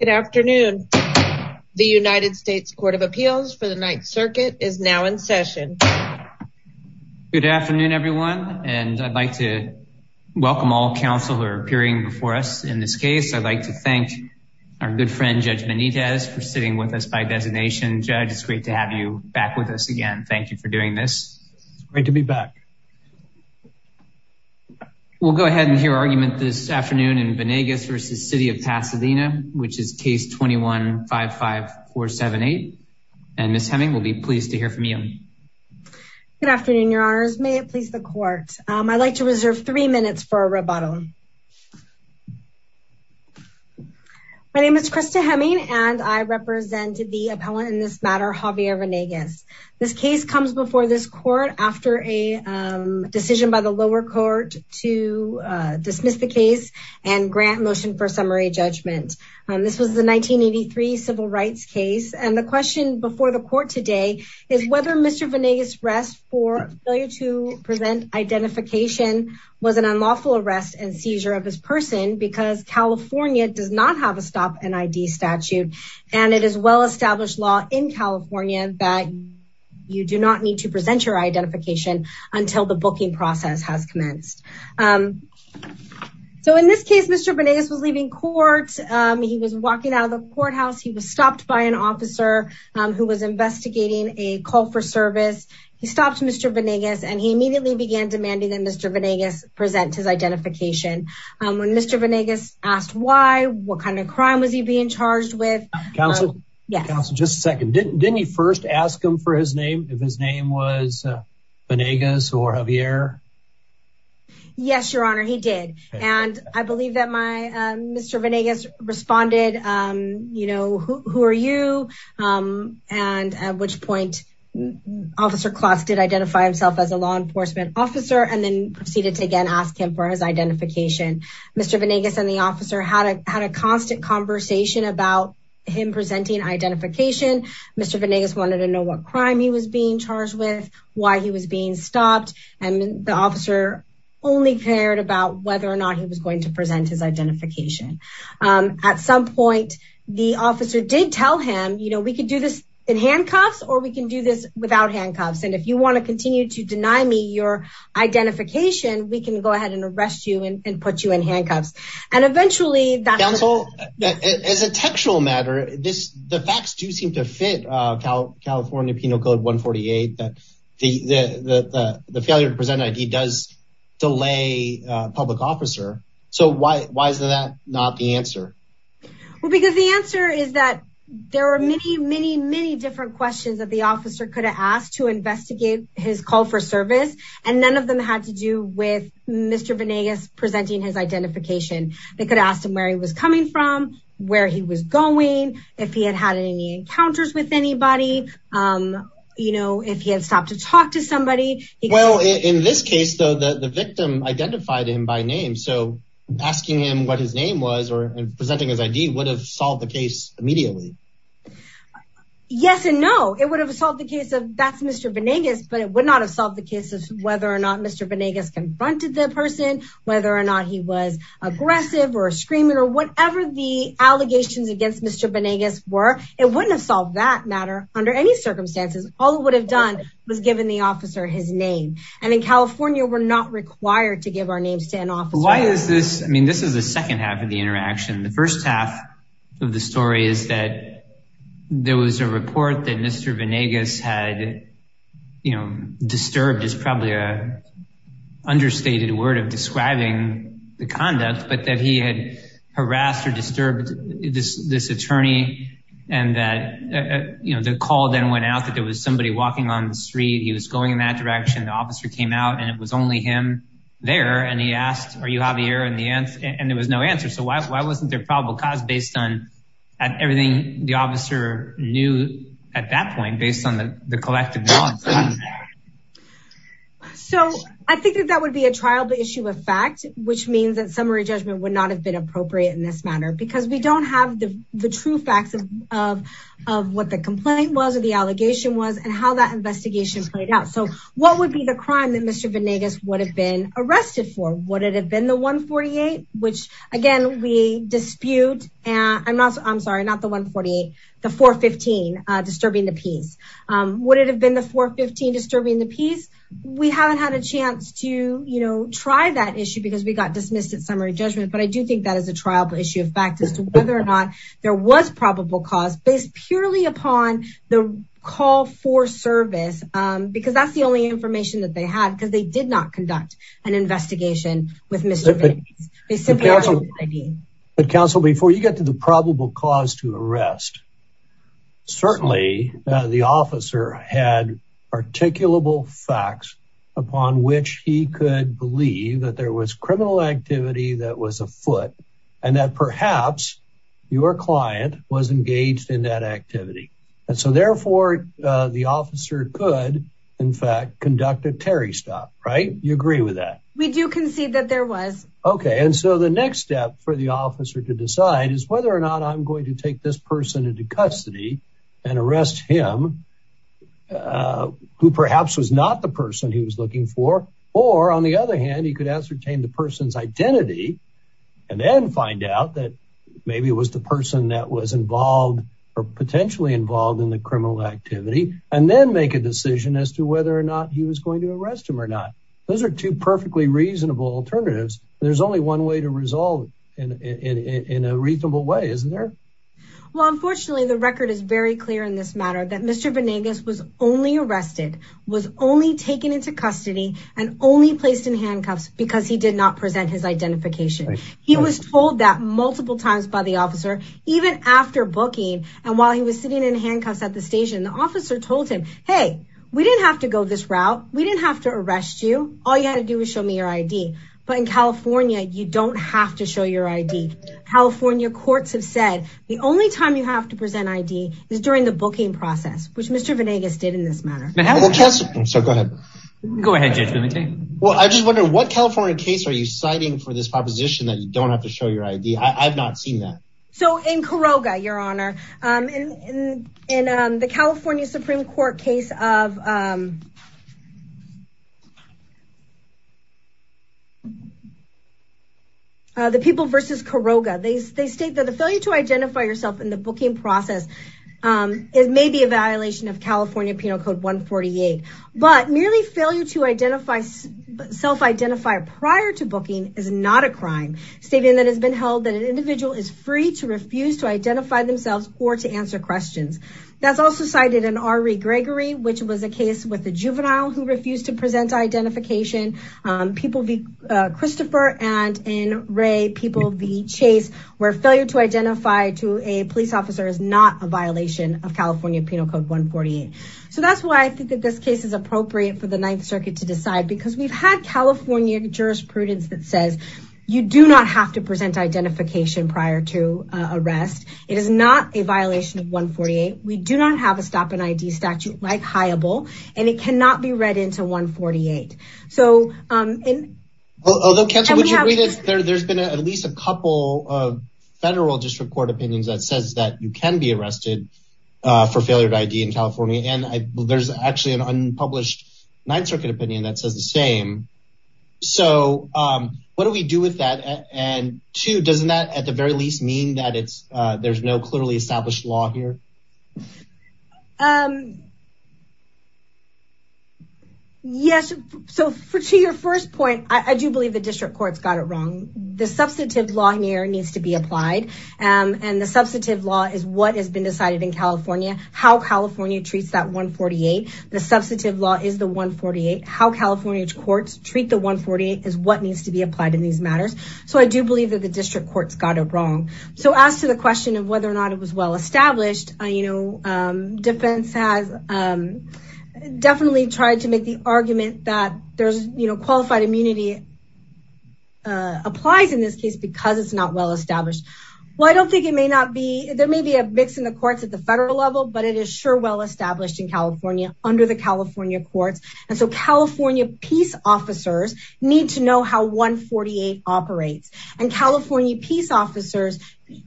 Good afternoon. The United States Court of Appeals for the Ninth Circuit is now in session. Good afternoon everyone and I'd like to welcome all counsel who are appearing before us in this case. I'd like to thank our good friend Judge Benitez for sitting with us by designation. Judge it's great to have you back with us again. Thank you for doing this. Great to be back. We'll go ahead and hear argument this afternoon in Vanegas v. City of Pasadena. Case 21-55478. Ms. Heming will be pleased to hear from you. Good afternoon, your honors. May it please the court. I'd like to reserve three minutes for a rebuttal. My name is Krista Heming and I represent the appellant in this matter, Javier Vanegas. This case comes before this court after a decision by the lower court to dismiss the case and grant motion for summary judgment. This was the 1983 civil rights case and the question before the court today is whether Mr. Vanegas rest for failure to present identification was an unlawful arrest and seizure of his person because California does not have a stop an ID statute and it is well established law in California that you do not need to present your identification until the booking process has commenced. So in this case, Mr. Vanegas was leaving court. He was walking out of the courthouse. He was stopped by an officer who was investigating a call for service. He stopped Mr. Vanegas and he immediately began demanding that Mr. Vanegas present his identification. When Mr. Vanegas asked why, what kind of crime was he being charged with? Counsel, just a second. Didn't he first ask him for his name if his name was Vanegas or Javier? Yes, your honor, he did and I believe that my Mr. Vanegas responded, you know, who are you and at which point Officer Klotz did identify himself as a law enforcement officer and then proceeded to again ask him for his identification. Mr. Vanegas and the officer had a constant conversation about him presenting identification. Mr. Vanegas wanted to know what crime he was being charged with, why he was being stopped, and the officer only cared about whether or not he was going to present his identification. At some point, the officer did tell him, you know, we could do this in handcuffs or we can do this without handcuffs and if you want to continue to deny me your identification, we can go ahead and arrest you and put you in handcuffs. Counsel, as a textual matter, the facts do seem to fit California Penal Code 148 that the failure to present ID does delay a public officer. So why is that not the answer? Well, because the answer is that there are many, many, many different questions that the officer could have asked to investigate his call for service and none of them had to do with Mr. Vanegas presenting his identification. They could have asked him where he was coming from, where he was going, if he had had any encounters with anybody, you know, if he had stopped to talk to somebody. Well, in this case, though, the victim identified him by name. So asking him what his name was or presenting his ID would have solved the case immediately. Yes and no. It would have solved the case of that's Mr. Vanegas, but it would not have solved the case of whether or not Mr. Vanegas confronted the person, whether or not he was aggressive or screaming or whatever the allegations against Mr. Vanegas were. It wouldn't have solved that matter under any circumstances. All it would have done was given the officer his name. And in California, we're not required to give our names to an officer. Why is this? I mean, this is the second half of the interaction. The first half of the story is that there was a report that Mr. Vanegas had, you know, disturbed is probably an understated word of describing the conduct, but that he had harassed or disturbed this attorney. And that, you know, the call then went out that there was somebody walking on the street. He was going in that direction. The officer came out and it was only him there. And he asked, are you Javier? And there was no answer. So why wasn't there probable cause based on everything the officer knew at that point, based on the collective knowledge? So I think that that would be a trial by issue of fact, which means that summary judgment would not have been appropriate in this matter, because we don't have the true facts of, of, of what the complaint was or the allegation was and how that investigation played out. So what would be the crime that Mr. Vanegas would have been arrested for? Would it have been the 148, which again, we dispute and I'm not, I'm sorry, not the 148, the 415 disturbing the peace. Would it have been the 415 disturbing the peace? We haven't had a chance to, you know, try that issue because we got dismissed at summary judgment. But I do think that as a trial by issue of fact, as to whether or not there was probable cause based purely upon the call for service, because that's the only information that they had, because they did not conduct an investigation with Mr. Vanegas. But counsel, before you get to the probable cause to arrest, certainly the officer had articulable facts upon which he could believe that there was criminal activity that was afoot and that perhaps your client was engaged in that activity. And so therefore the officer could in fact conduct a Terry stop, right? You agree with that? We do concede that there was. Okay. And so the next step for the officer to decide is whether or not I'm going to take this person into custody and arrest him who perhaps was not the person he was looking for. Or on the other hand, he could ascertain the person's identity and then find out that maybe it was the person that was involved or potentially involved in the criminal activity, and then make a decision as to whether or not he was going to arrest him or not. Those are two perfectly reasonable alternatives. There's only one way to resolve it in a reasonable way, isn't there? Well, unfortunately, the record is very clear in this matter that Mr. Vanegas was only arrested, was only taken into custody and only placed in handcuffs because he did not present his identification. He was told that multiple times by the officer, even after booking. And while he was sitting in handcuffs at the station, the officer told him, hey, we didn't have to go this route. We didn't have to arrest you. All you had to do was show your ID. But in California, you don't have to show your ID. California courts have said the only time you have to present ID is during the booking process, which Mr. Vanegas did in this matter. So go ahead. Go ahead. Well, I just wonder what California case are you citing for this proposition that you don't have to show your ID? I've not seen that. So in Caroga, Your Honor, in the California Supreme Court case of. The people versus Caroga, they state that the failure to identify yourself in the booking process is maybe a violation of California Penal Code 148, but merely failure to identify self-identify prior to booking is not a crime statement that has been held that an individual is free to refuse to identify themselves or to answer questions. That's also cited in R.E. Gregory, which was a case with a juvenile who refused to present identification. People, Christopher and in Ray people, the chase were failure to identify to a police officer is not a violation of California Penal Code 148. So that's why I think that this case is appropriate for the Ninth Circuit to decide, because we've had California jurisprudence that says you do not have to present identification prior to arrest. It is not a violation of 148. We do not have a stop and ID statute like HIABLE, and it cannot be read into 148. So, although, there's been at least a couple of federal district court opinions that says that you can be arrested for failure to ID in California. And there's actually an unpublished Ninth Circuit opinion that says the same. So what do we do with that? And two, doesn't that at the very least mean that there's no clearly established law here? Yes, so for to your first point, I do believe the district courts got it wrong. The substantive law here needs to be applied. And the substantive law is what has been decided in California. How California treats that 148. The substantive law is the 148. How California courts treat the 148 is what needs to be applied in these matters. So I do believe that the district courts got it wrong. So as to the question of whether or not it was well established, you know, defense has definitely tried to make the argument that there's, you know, qualified immunity applies in this case because it's not well established. Well, I don't think it may not be, there may be a mix in the courts at the federal level, but it is sure well established in California under the California courts. And so California peace officers need to know how 148 operates and California peace officers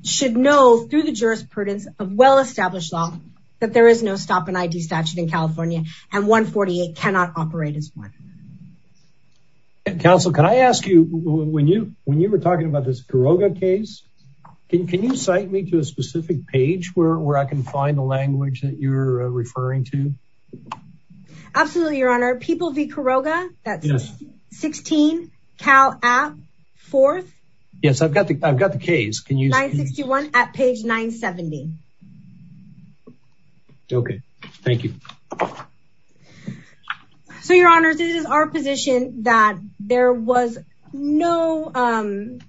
should know through the jurisprudence of well-established law that there is no stop and ID statute in California and 148 cannot operate as one. Counsel, can I ask you, when you were talking about this Caroga case, can you cite me to a specific page where I can find the language that you're referring to? Absolutely, your honor. People v. Caroga, that's 16 Cal app fourth. Yes, I've got the, I've got the case. Can you? 961 at page 970. Okay. Thank you. So your honors, this is our position that there was no,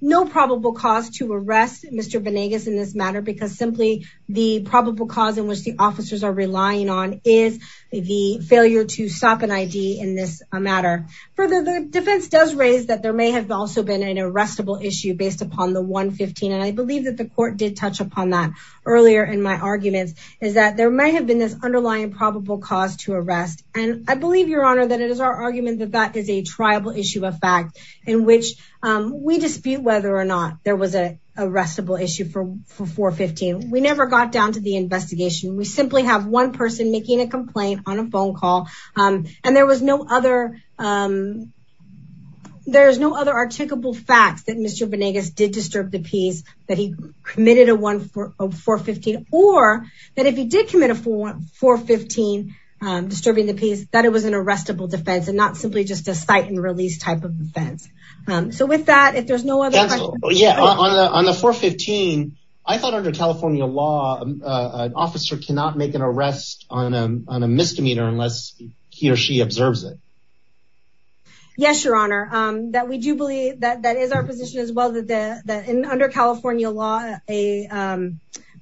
no probable cause to arrest Mr. Vanegas in this matter because simply the probable cause in which the officers are relying on is the failure to stop an ID in this matter. Further, the defense does raise that there may have also been an arrestable issue based upon the 115. And I believe that the court did touch upon that earlier in my arguments is that there may have been this underlying probable cause to arrest. And I believe your honor, that it is our argument that that is a tribal issue of fact in which we dispute whether or not there was a arrestable issue for 415. We never got down to the investigation. We simply have one person making a complaint on a phone call. And there was no other, there's no other articulable facts that Mr. Vanegas did disturb the peace, that he committed a one for 415, or that if he did commit a 415 disturbing the peace, that it was an arrestable defense and not simply just a site and release type of defense. So with that, if there's no other, on the 415, I thought under California law, an officer cannot make an arrest on a misdemeanor unless he or she observes it. Yes, your honor, that we do believe that that is our position as well that the, that in under California law, a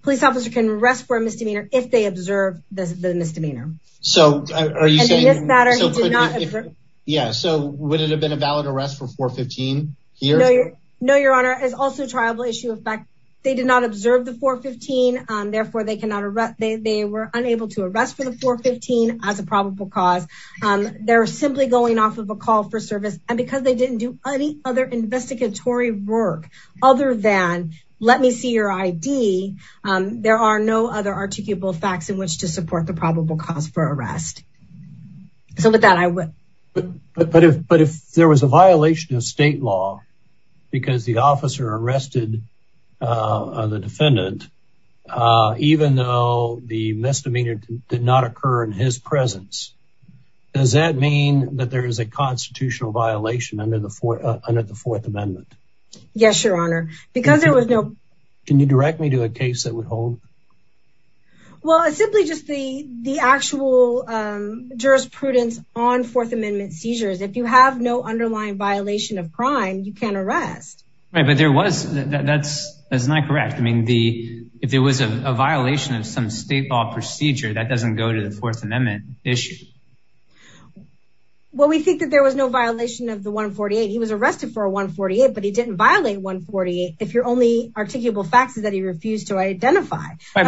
police officer can arrest for a misdemeanor if they observe the misdemeanor. So are you saying that? Yeah. So would it have been a valid arrest for 415? Here? No, your honor is also tribal issue of fact, they did not observe the 415. Therefore, they cannot arrest. They were unable to arrest for the 415 as a probable cause. They're simply going off of a call for service. And because they didn't do any other investigatory work, other than let me see your ID, there are no other articulable facts in which to support the probable cause for arrest. So with that, I would. But if there was a violation of state law, because the officer arrested the defendant, even though the misdemeanor did not occur in his presence, does that mean that there is a constitutional violation under the Fourth Amendment? Yes, your honor, because there was no. Can you direct me to a case that would hold? Well, it's simply just the, the actual jurisprudence on Fourth Amendment seizures. If you have no underlying violation of crime, you can arrest. Right. But there was, that's, that's not correct. I mean, the, if there was a violation of some state law procedure, that doesn't go to the Fourth Amendment issue. Well, we think that there was no violation of 148. He was arrested for 148, but he didn't violate 148. If your only articulable facts is that he refused to identify. It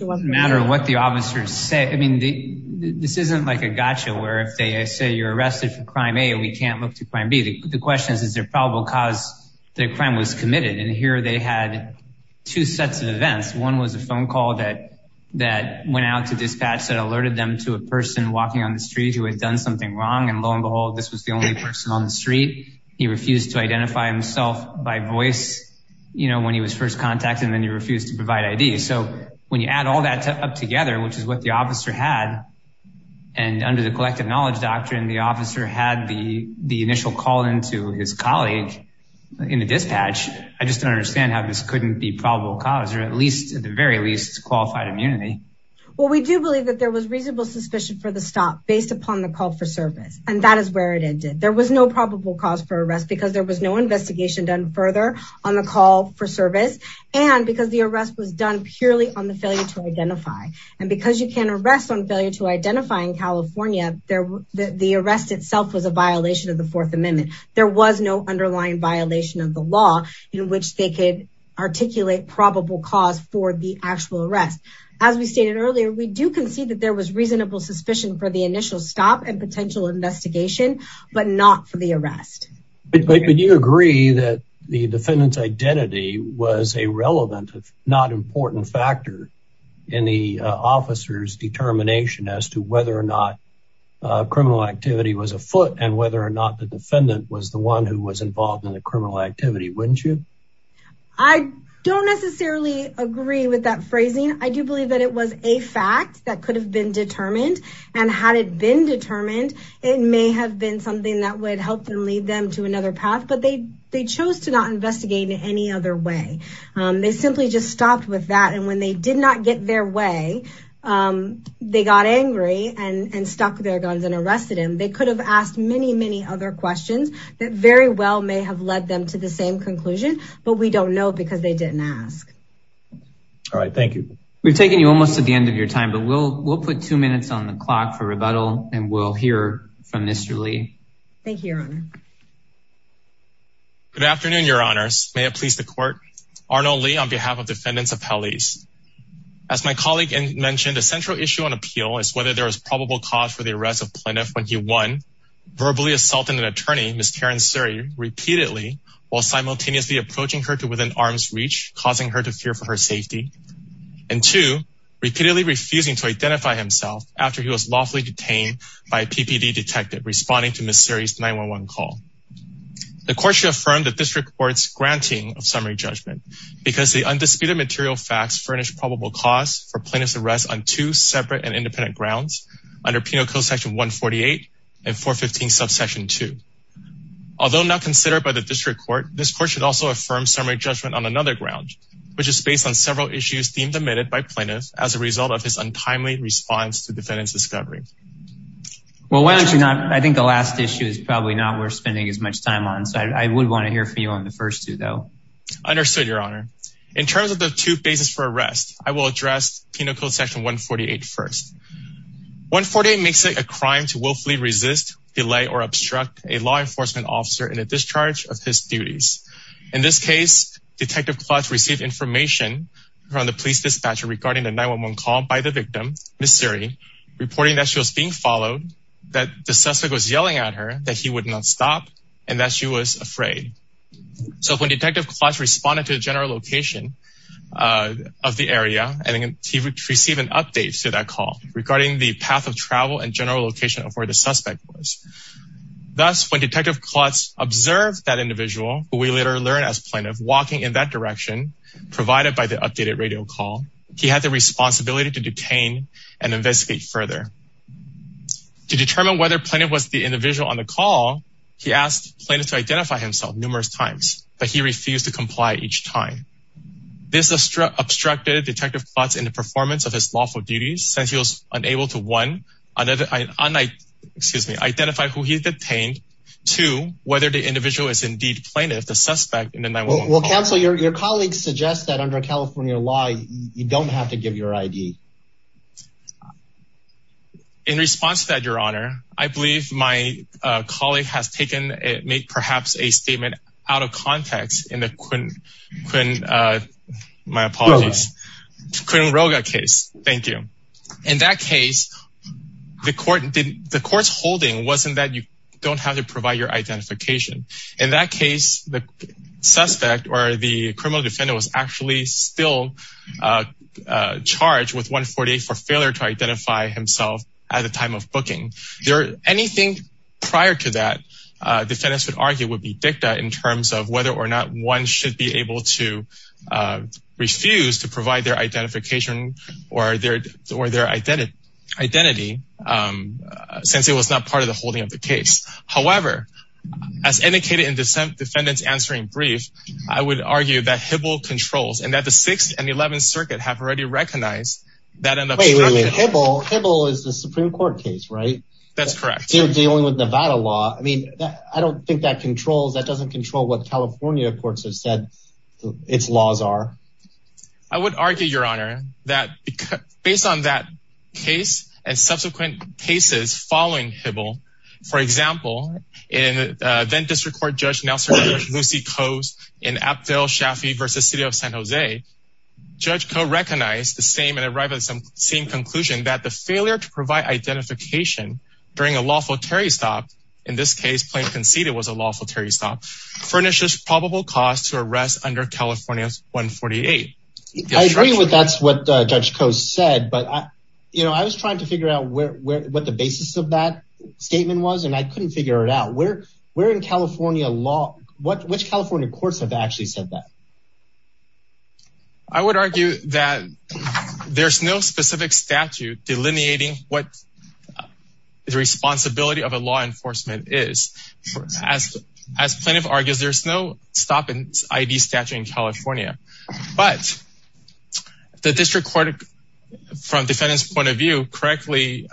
doesn't matter what the officers say. I mean, this isn't like a gotcha where if they say you're arrested for crime A, we can't look to crime B. The question is, is there probable cause that crime was committed? And here they had two sets of events. One was a phone call that, that went out to dispatch that alerted them to a person walking on the street who had done something wrong. And lo and behold, this was the only person on the street. He refused to identify himself by voice, you know, when he was first contacted and then he refused to provide ID. So when you add all that up together, which is what the officer had and under the collective knowledge doctrine, the officer had the, the initial call into his colleague in the dispatch. I just don't understand how this couldn't be probable cause, or at least at the very least qualified immunity. Well, we do believe that there was reasonable suspicion for the stop based upon the call for service. And that is where it ended. There was no probable cause for arrest because there was no investigation done further on the call for service. And because the arrest was done purely on the failure to identify. And because you can arrest on failure to identify in California, there, the arrest itself was a violation of the fourth amendment. There was no underlying violation of the law in which they could articulate probable cause for the actual arrest. As we stated earlier, we do concede that there was reasonable suspicion for the initial stop and potential investigation, but not for the arrest. But you agree that the defendant's identity was a relevant, if not important factor in the officer's determination as to whether or not criminal activity was afoot and whether or not the defendant was the one who was involved in the criminal activity, wouldn't you? I don't necessarily agree with that phrasing. I do believe that it was a fact that could have determined. And had it been determined, it may have been something that would help them lead them to another path. But they chose to not investigate in any other way. They simply just stopped with that. And when they did not get their way, they got angry and stuck their guns and arrested him. They could have asked many, many other questions that very well may have led them to the same conclusion. But we don't know because they didn't ask. All right. Thank you. We've taken you almost to the end of your time, but we'll put two minutes on the clock for rebuttal. And we'll hear from Mr. Lee. Thank you, Your Honor. Good afternoon, Your Honors. May it please the court. Arnold Lee on behalf of defendants of Hellies. As my colleague mentioned, a central issue on appeal is whether there was probable cause for the arrest of Plintiff when he, one, verbally assaulted an attorney, Ms. Karen Suri, repeatedly while simultaneously approaching her to within arm's reach, causing her to fear for her safety, and two, repeatedly refusing to identify himself after he was lawfully detained by a PPD detective responding to Ms. Suri's 911 call. The court should affirm the district court's granting of summary judgment because the undisputed material facts furnish probable cause for Plaintiff's arrest on two separate and independent grounds under Penal Code Section 148 and 415 Subsection 2. Although not considered by the district court, this court should also affirm summary judgment on another ground, which is based on several issues deemed admitted by Plaintiff as a result of his untimely response to defendant's discovery. Well, why don't you not, I think the last issue is probably not worth spending as much time on, so I would want to hear from you on the first two though. Understood, Your Honor. In terms of the two bases for arrest, I will address Penal Code Section 148 first. 148 makes it a crime to willfully resist, delay, or obstruct a law Detective Klotz received information from the police dispatcher regarding the 911 call by the victim, Ms. Suri, reporting that she was being followed, that the suspect was yelling at her, that he would not stop, and that she was afraid. So, when Detective Klotz responded to the general location of the area, he received an update to that call regarding the path of travel and general location of where the suspect was. Thus, when Detective Klotz observed that individual, who we later learn as Plaintiff, walking in that direction, provided by the updated radio call, he had the responsibility to detain and investigate further. To determine whether Plaintiff was the individual on the call, he asked Plaintiff to identify himself numerous times, but he refused to comply each time. This obstructed Detective Klotz in the performance of his lawful duties, since he was unable to, one, identify who he detained, two, whether the individual is indeed a Plaintiff, the suspect in the 911 call. Well, Counsel, your colleagues suggest that under California law, you don't have to give your ID. In response to that, Your Honor, I believe my colleague has taken, made perhaps a statement out of context in the Quinn, Quinn, uh, my apologies, Quinn Rogge case. Thank you. In that case, the court, the court's holding wasn't that you don't have to provide your identification. In that case, the suspect or the criminal defendant was actually still, uh, uh, charged with 148 for failure to identify himself at the time of booking. There, anything prior to that, uh, defendants would argue would be dicta in terms of whether or not one should be able to, uh, refuse to provide their identification or their, or their identity identity, um, uh, since it was not part of the holding of the case. However, as indicated in dissent defendants answering brief, I would argue that Hibble controls and that the sixth and 11th circuit have already recognized that. Hibble is the Supreme court case, right? That's correct. You're dealing with Nevada law. I mean, I don't think that controls, that doesn't control what California courts have said. It's laws are, I would argue your honor that based on that case and subsequent cases following Hibble, for example, in a then district court, judge Nelson, Lucy coast and Abdel Shafi versus city of San Jose judge co-recognized the same and arrived at some same conclusion that the failure to provide identification during a lawful Terry stopped in this case, plain conceded was a lawful furnishes probable cause to arrest under California one 48. I agree with, that's what a judge coast said, but I, you know, I was trying to figure out where, where, what the basis of that statement was. And I couldn't figure it out where, where in California law, what, which California courts have actually said that. I would argue that there's no specific statute delineating what the responsibility of a law is. As, as plaintiff argues, there's no stop in ID statute in California, but the district court from defendant's point of view correctly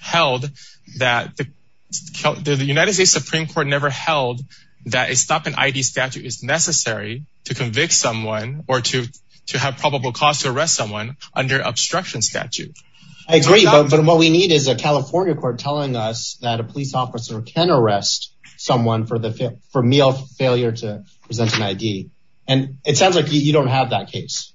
held that the United States Supreme court never held that a stop in ID statute is necessary to convict someone or to, to have probable cause to arrest someone under obstruction statute. I agree. But what we need is a California court telling us that a police officer can arrest someone for the, for meal failure to present an ID. And it sounds like you don't have that case.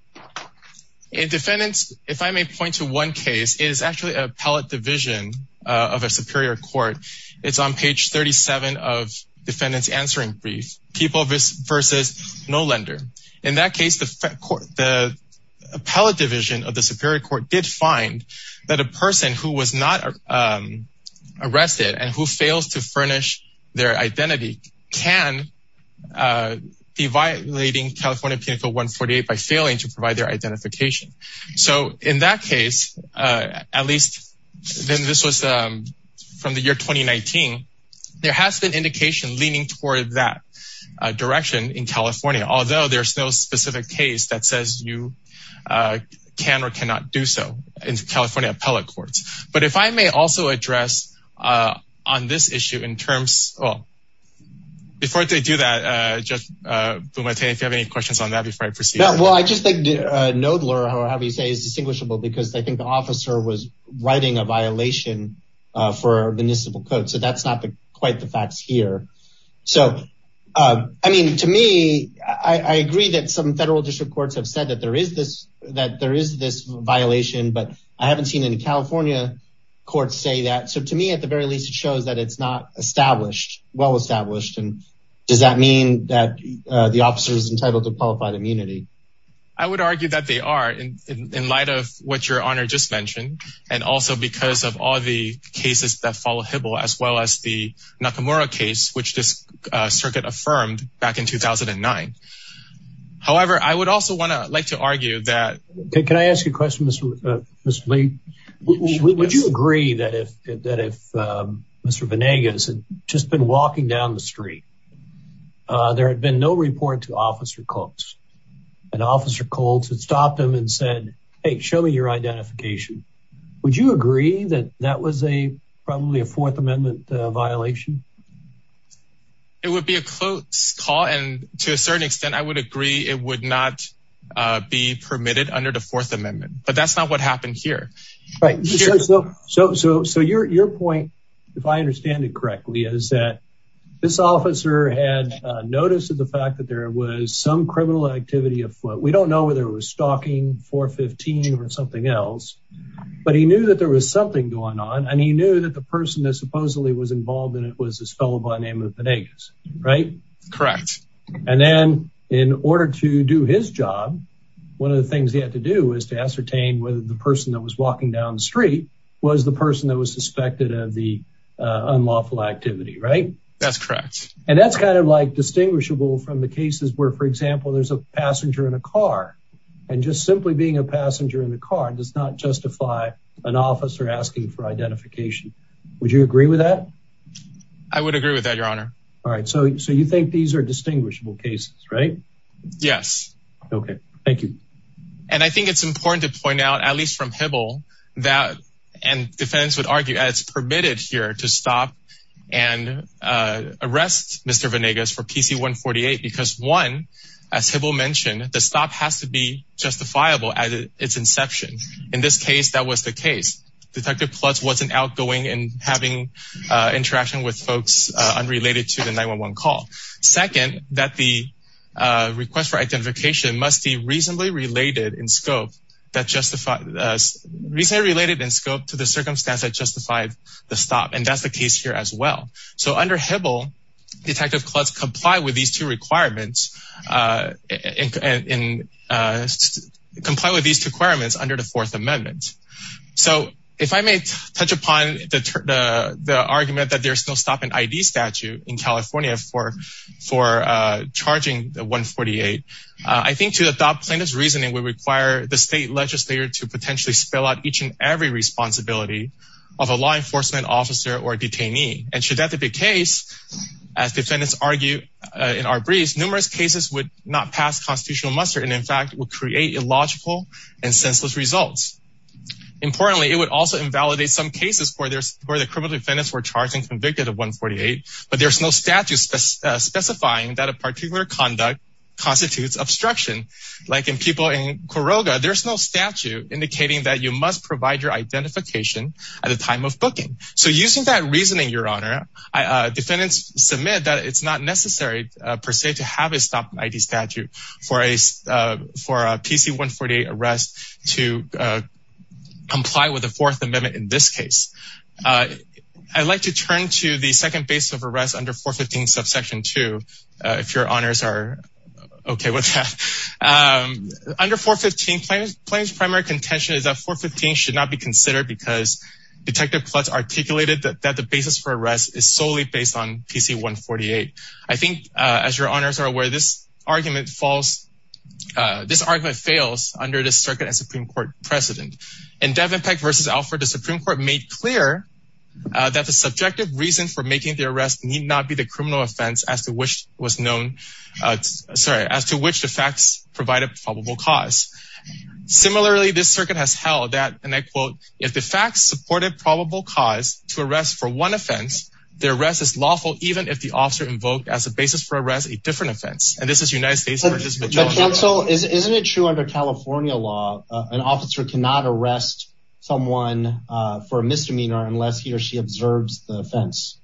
And defendants, if I may point to one case is actually a pellet division of a superior court. It's on page 37 of defendants answering brief people versus no lender. In that case, the court, the appellate division of the superior court did find that a person who was not arrested and who fails to furnish their identity can be violating California penal code 148 by failing to provide their identification. So in that case, at least then this was from the year 2019, there has been indication leaning toward that direction in California. Although there's no specific case that says you can or cannot do so in California appellate courts. But if I may also address on this issue in terms of before they do that, just if you have any questions on that before I proceed. Well, I just think no blur, however you say is distinguishable because I think the officer was writing a violation for the municipal code. So that's not quite the facts here. So I mean, to me, I agree that some federal district courts have said that there is this that there is this violation, but I haven't seen any California courts say that. So to me, at the very least, it shows that it's not established, well established. And does that mean that the officers entitled to qualified immunity? I would argue that they are in light of what your honor just mentioned. And also because of all the cases that follow Hibble, as well as the Nakamura case, which this circuit affirmed back in 2009. However, I would also want to like to argue that... Can I ask you a question, Mr. Lee? Would you agree that if Mr. Venegas had just been walking down the street, there had been no report to Officer Colts. And Officer Colts had stopped him and said, hey, show me your identification. Would you agree that that was a probably a Fourth Amendment violation? It would be a close call. And to a certain extent, I would agree it would not be permitted under the Fourth Amendment. But that's not what happened here. Right. So your point, if I understand it correctly, is that this officer had noticed the fact that was some criminal activity of foot. We don't know whether it was stalking 415 or something else. But he knew that there was something going on. And he knew that the person that supposedly was involved in it was this fellow by the name of Venegas, right? Correct. And then in order to do his job, one of the things he had to do is to ascertain whether the person that was walking down the street was the person that was suspected of the unlawful activity, right? That's correct. And that's kind of like distinguishable from the cases where, for example, there's a passenger in a car and just simply being a passenger in the car does not justify an officer asking for identification. Would you agree with that? I would agree with that, Your Honor. All right. So so you think these are distinguishable cases, right? Yes. OK, thank you. And I think it's important to point out, at least from Hibble, that, and defendants would argue, it's permitted here to stop and arrest Mr. Venegas for PC 148 because, one, as Hibble mentioned, the stop has to be justifiable at its inception. In this case, that was the case. Detective Plutz wasn't outgoing and having interaction with folks unrelated to the 911 call. Second, that the request for identification must be reasonably related in scope to the circumstance that justified the stop. And that's the case here as well. So under Hibble, Detective Plutz complied with these two requirements under the Fourth Amendment. So if I may touch upon the argument that there's no stop in ID statute in California for charging 148, I think to adopt plaintiff's reasoning, we require the state legislator to potentially spill out each and every responsibility of a law enforcement officer or detainee. And should that be the case, as defendants argue in our briefs, numerous cases would not pass constitutional muster and, in fact, would create illogical and senseless results. Importantly, it would also invalidate some cases where the criminal defendants were charged and specifying that a particular conduct constitutes obstruction. Like in people in Quiroga, there's no statute indicating that you must provide your identification at the time of booking. So using that reasoning, Your Honor, defendants submit that it's not necessary per se to have a stop in ID statute for a PC-148 arrest to comply with the Fourth Amendment in this case. I'd like to turn to the second basis of arrest under 415 subsection 2, if Your Honors are okay with that. Under 415, plaintiff's primary contention is that 415 should not be considered because Detective Plutz articulated that the basis for arrest is solely based on PC-148. I think, as Your Honors are aware, this argument fails under the circuit and Supreme Court precedent. In Devenpeck v. Alford, the Supreme Court made clear that the subjective reason for making the arrest need not be the criminal offense as to which was known, sorry, as to which the facts provided probable cause. Similarly, this circuit has held that, and I quote, if the facts supported probable cause to arrest for one offense, the arrest is lawful even if the officer invoked as a basis for arrest a different offense. And this is United States counsel. Isn't it true under California law, an officer cannot arrest someone for a misdemeanor unless he or she observes the offense?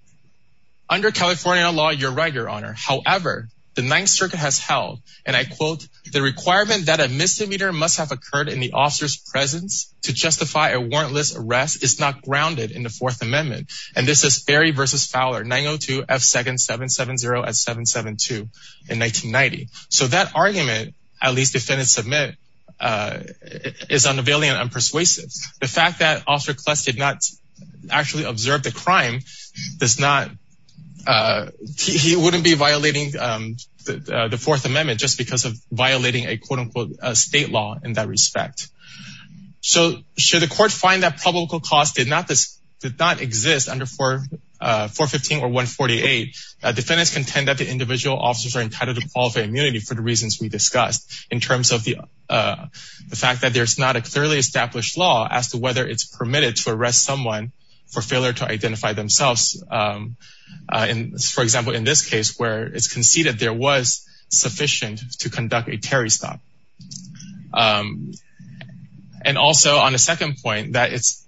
Under California law, you're right, Your Honor. However, the Ninth Circuit has held, and I quote, the requirement that a misdemeanor must have occurred in the officer's presence to justify a warrantless arrest is not grounded in the Fourth Amendment. And this is Ferry v. Fowler, 902-F-770-772 in 1990. So that argument, at least defendants submit, is unavailing and unpersuasive. The fact that Officer Kless did not actually observe the crime does not, he wouldn't be violating the Fourth Amendment just because of violating a, quote-unquote, state law in that respect. So should the court find that probable cause did not exist under 415 or 148, defendants contend that the individual officers are entitled to qualify immunity for the reasons we discussed in terms of the fact that there's not a clearly established law as to whether it's permitted to arrest someone for failure to identify themselves. And for example, in this case where it's conceded there was sufficient to conduct a Terry stop. And also on the second point that it's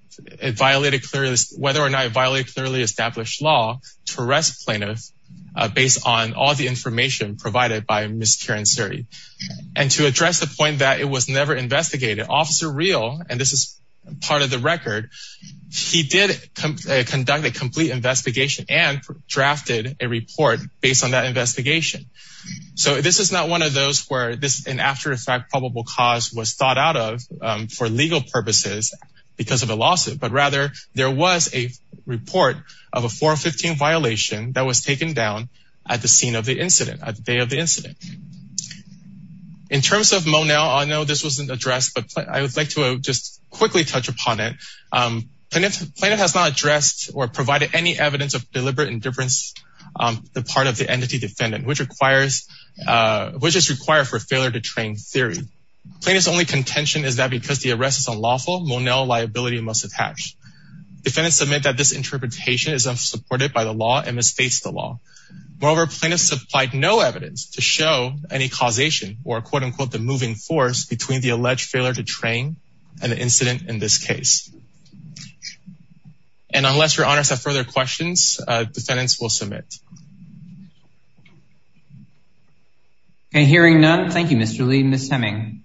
violated clearly, whether or not it violated clearly established law to arrest plaintiffs based on all the information provided by Ms. Karen Suri. And to address the point that it was never investigated, Officer Real, and this is part of the record, he did conduct a complete investigation and drafted a report based on investigation. So this is not one of those where this and after the fact probable cause was thought out of for legal purposes because of a lawsuit, but rather there was a report of a 415 violation that was taken down at the scene of the incident, at the day of the incident. In terms of Monell, I know this wasn't addressed, but I would like to just quickly touch upon it. Plaintiff has not addressed or provided any evidence of deliberate indifference on the part of the entity defendant, which is required for failure to train theory. Plaintiff's only contention is that because the arrest is unlawful, Monell liability must attach. Defendants submit that this interpretation is unsupported by the law and misstates the law. Moreover, plaintiffs supplied no evidence to show any causation or quote-unquote the moving force between the alleged failure to train and the incident in this case. And unless your honors have further questions, defendants will submit. Okay, hearing none. Thank you, Mr. Lee. Ms. Heming.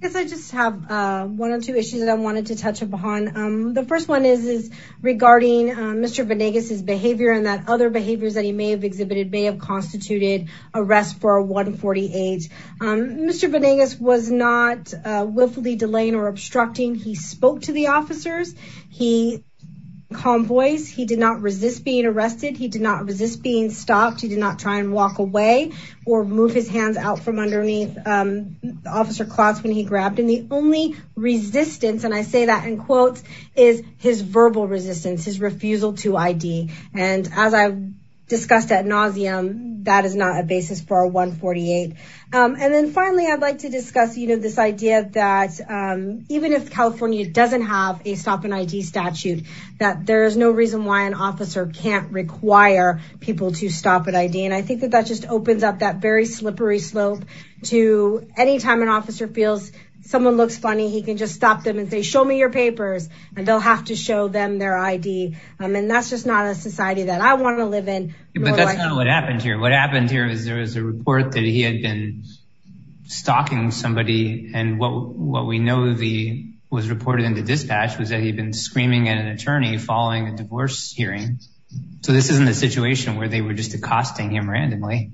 Yes, I just have one or two issues that I wanted to touch upon. The first one is regarding Mr. Venegas's behavior and that other behaviors that he may have exhibited may have constituted arrest for a 140 age. Mr. Venegas was not willfully delaying or obstructing. He spoke to the he convoys. He did not resist being arrested. He did not resist being stopped. He did not try and walk away or move his hands out from underneath officer cloths when he grabbed him. The only resistance, and I say that in quotes, is his verbal resistance, his refusal to ID. And as I've discussed at nauseam, that is not a basis for a 148. And then finally, I'd like to discuss, you know, this idea that even if California doesn't have a stop an ID statute, that there is no reason why an officer can't require people to stop at ID. And I think that that just opens up that very slippery slope to any time an officer feels someone looks funny, he can just stop them and say, show me your papers, and they'll have to show them their ID. And that's just not a society that I want to live in. But that's not what happened here. What had been stalking somebody. And what we know was reported in the dispatch was that he'd been screaming at an attorney following a divorce hearing. So this isn't a situation where they were just accosting him randomly.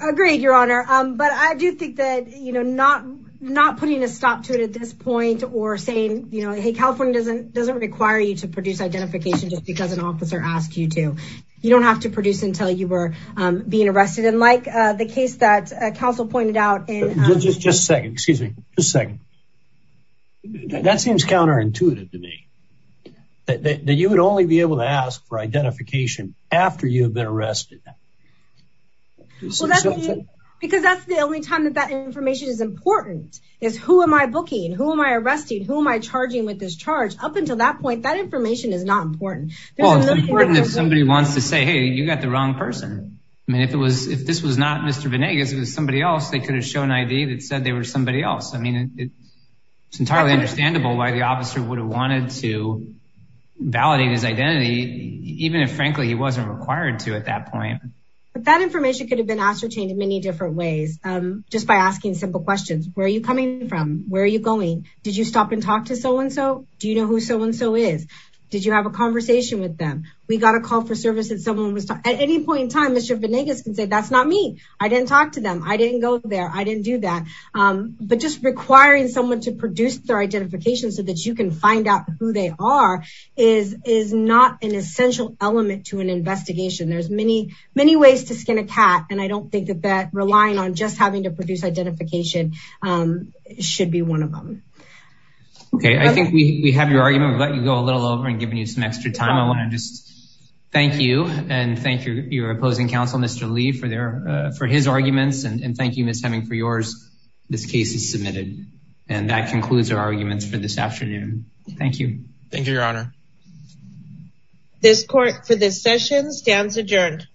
Agreed, Your Honor. But I do think that, you know, not not putting a stop to it at this point or saying, you know, hey, California doesn't doesn't require you to produce identification just because an officer asked you you don't have to produce until you were being arrested. And like the case that counsel pointed out in just second, excuse me, just second. That seems counterintuitive to me that you would only be able to ask for identification after you've been arrested. Because that's the only time that that information is important is who am I booking? Who am I arresting? Who am I charging with this charge? Up until that point, that information is not important. Well, it's important if somebody wants to say, hey, you got the wrong person. I mean, if it was if this was not Mr. Venegas, it was somebody else. They could have shown an ID that said they were somebody else. I mean, it's entirely understandable why the officer would have wanted to validate his identity, even if, frankly, he wasn't required to at that point. But that information could have been ascertained in many different ways. Just by asking simple questions. Where are you coming from? Where are you going? Did you stop and talk to so-and-so? Do you know who so-and-so is? Did you have a conversation with them? We got a call for service and someone was at any point in time. Mr. Venegas can say that's not me. I didn't talk to them. I didn't go there. I didn't do that. But just requiring someone to produce their identification so that you can find out who they are is is not an essential element to an investigation. There's many, many ways to skin a cat. And I don't think that relying on just having to produce identification should be one of them. Okay. I think we have your argument. We've let you go a little over and given you some extra time. I want to just thank you and thank your opposing counsel, Mr. Lee, for his arguments. And thank you, Ms. Hemming, for yours. This case is submitted. And that concludes our arguments for this afternoon. Thank you. Thank you, Your Honor. This court for this session stands adjourned.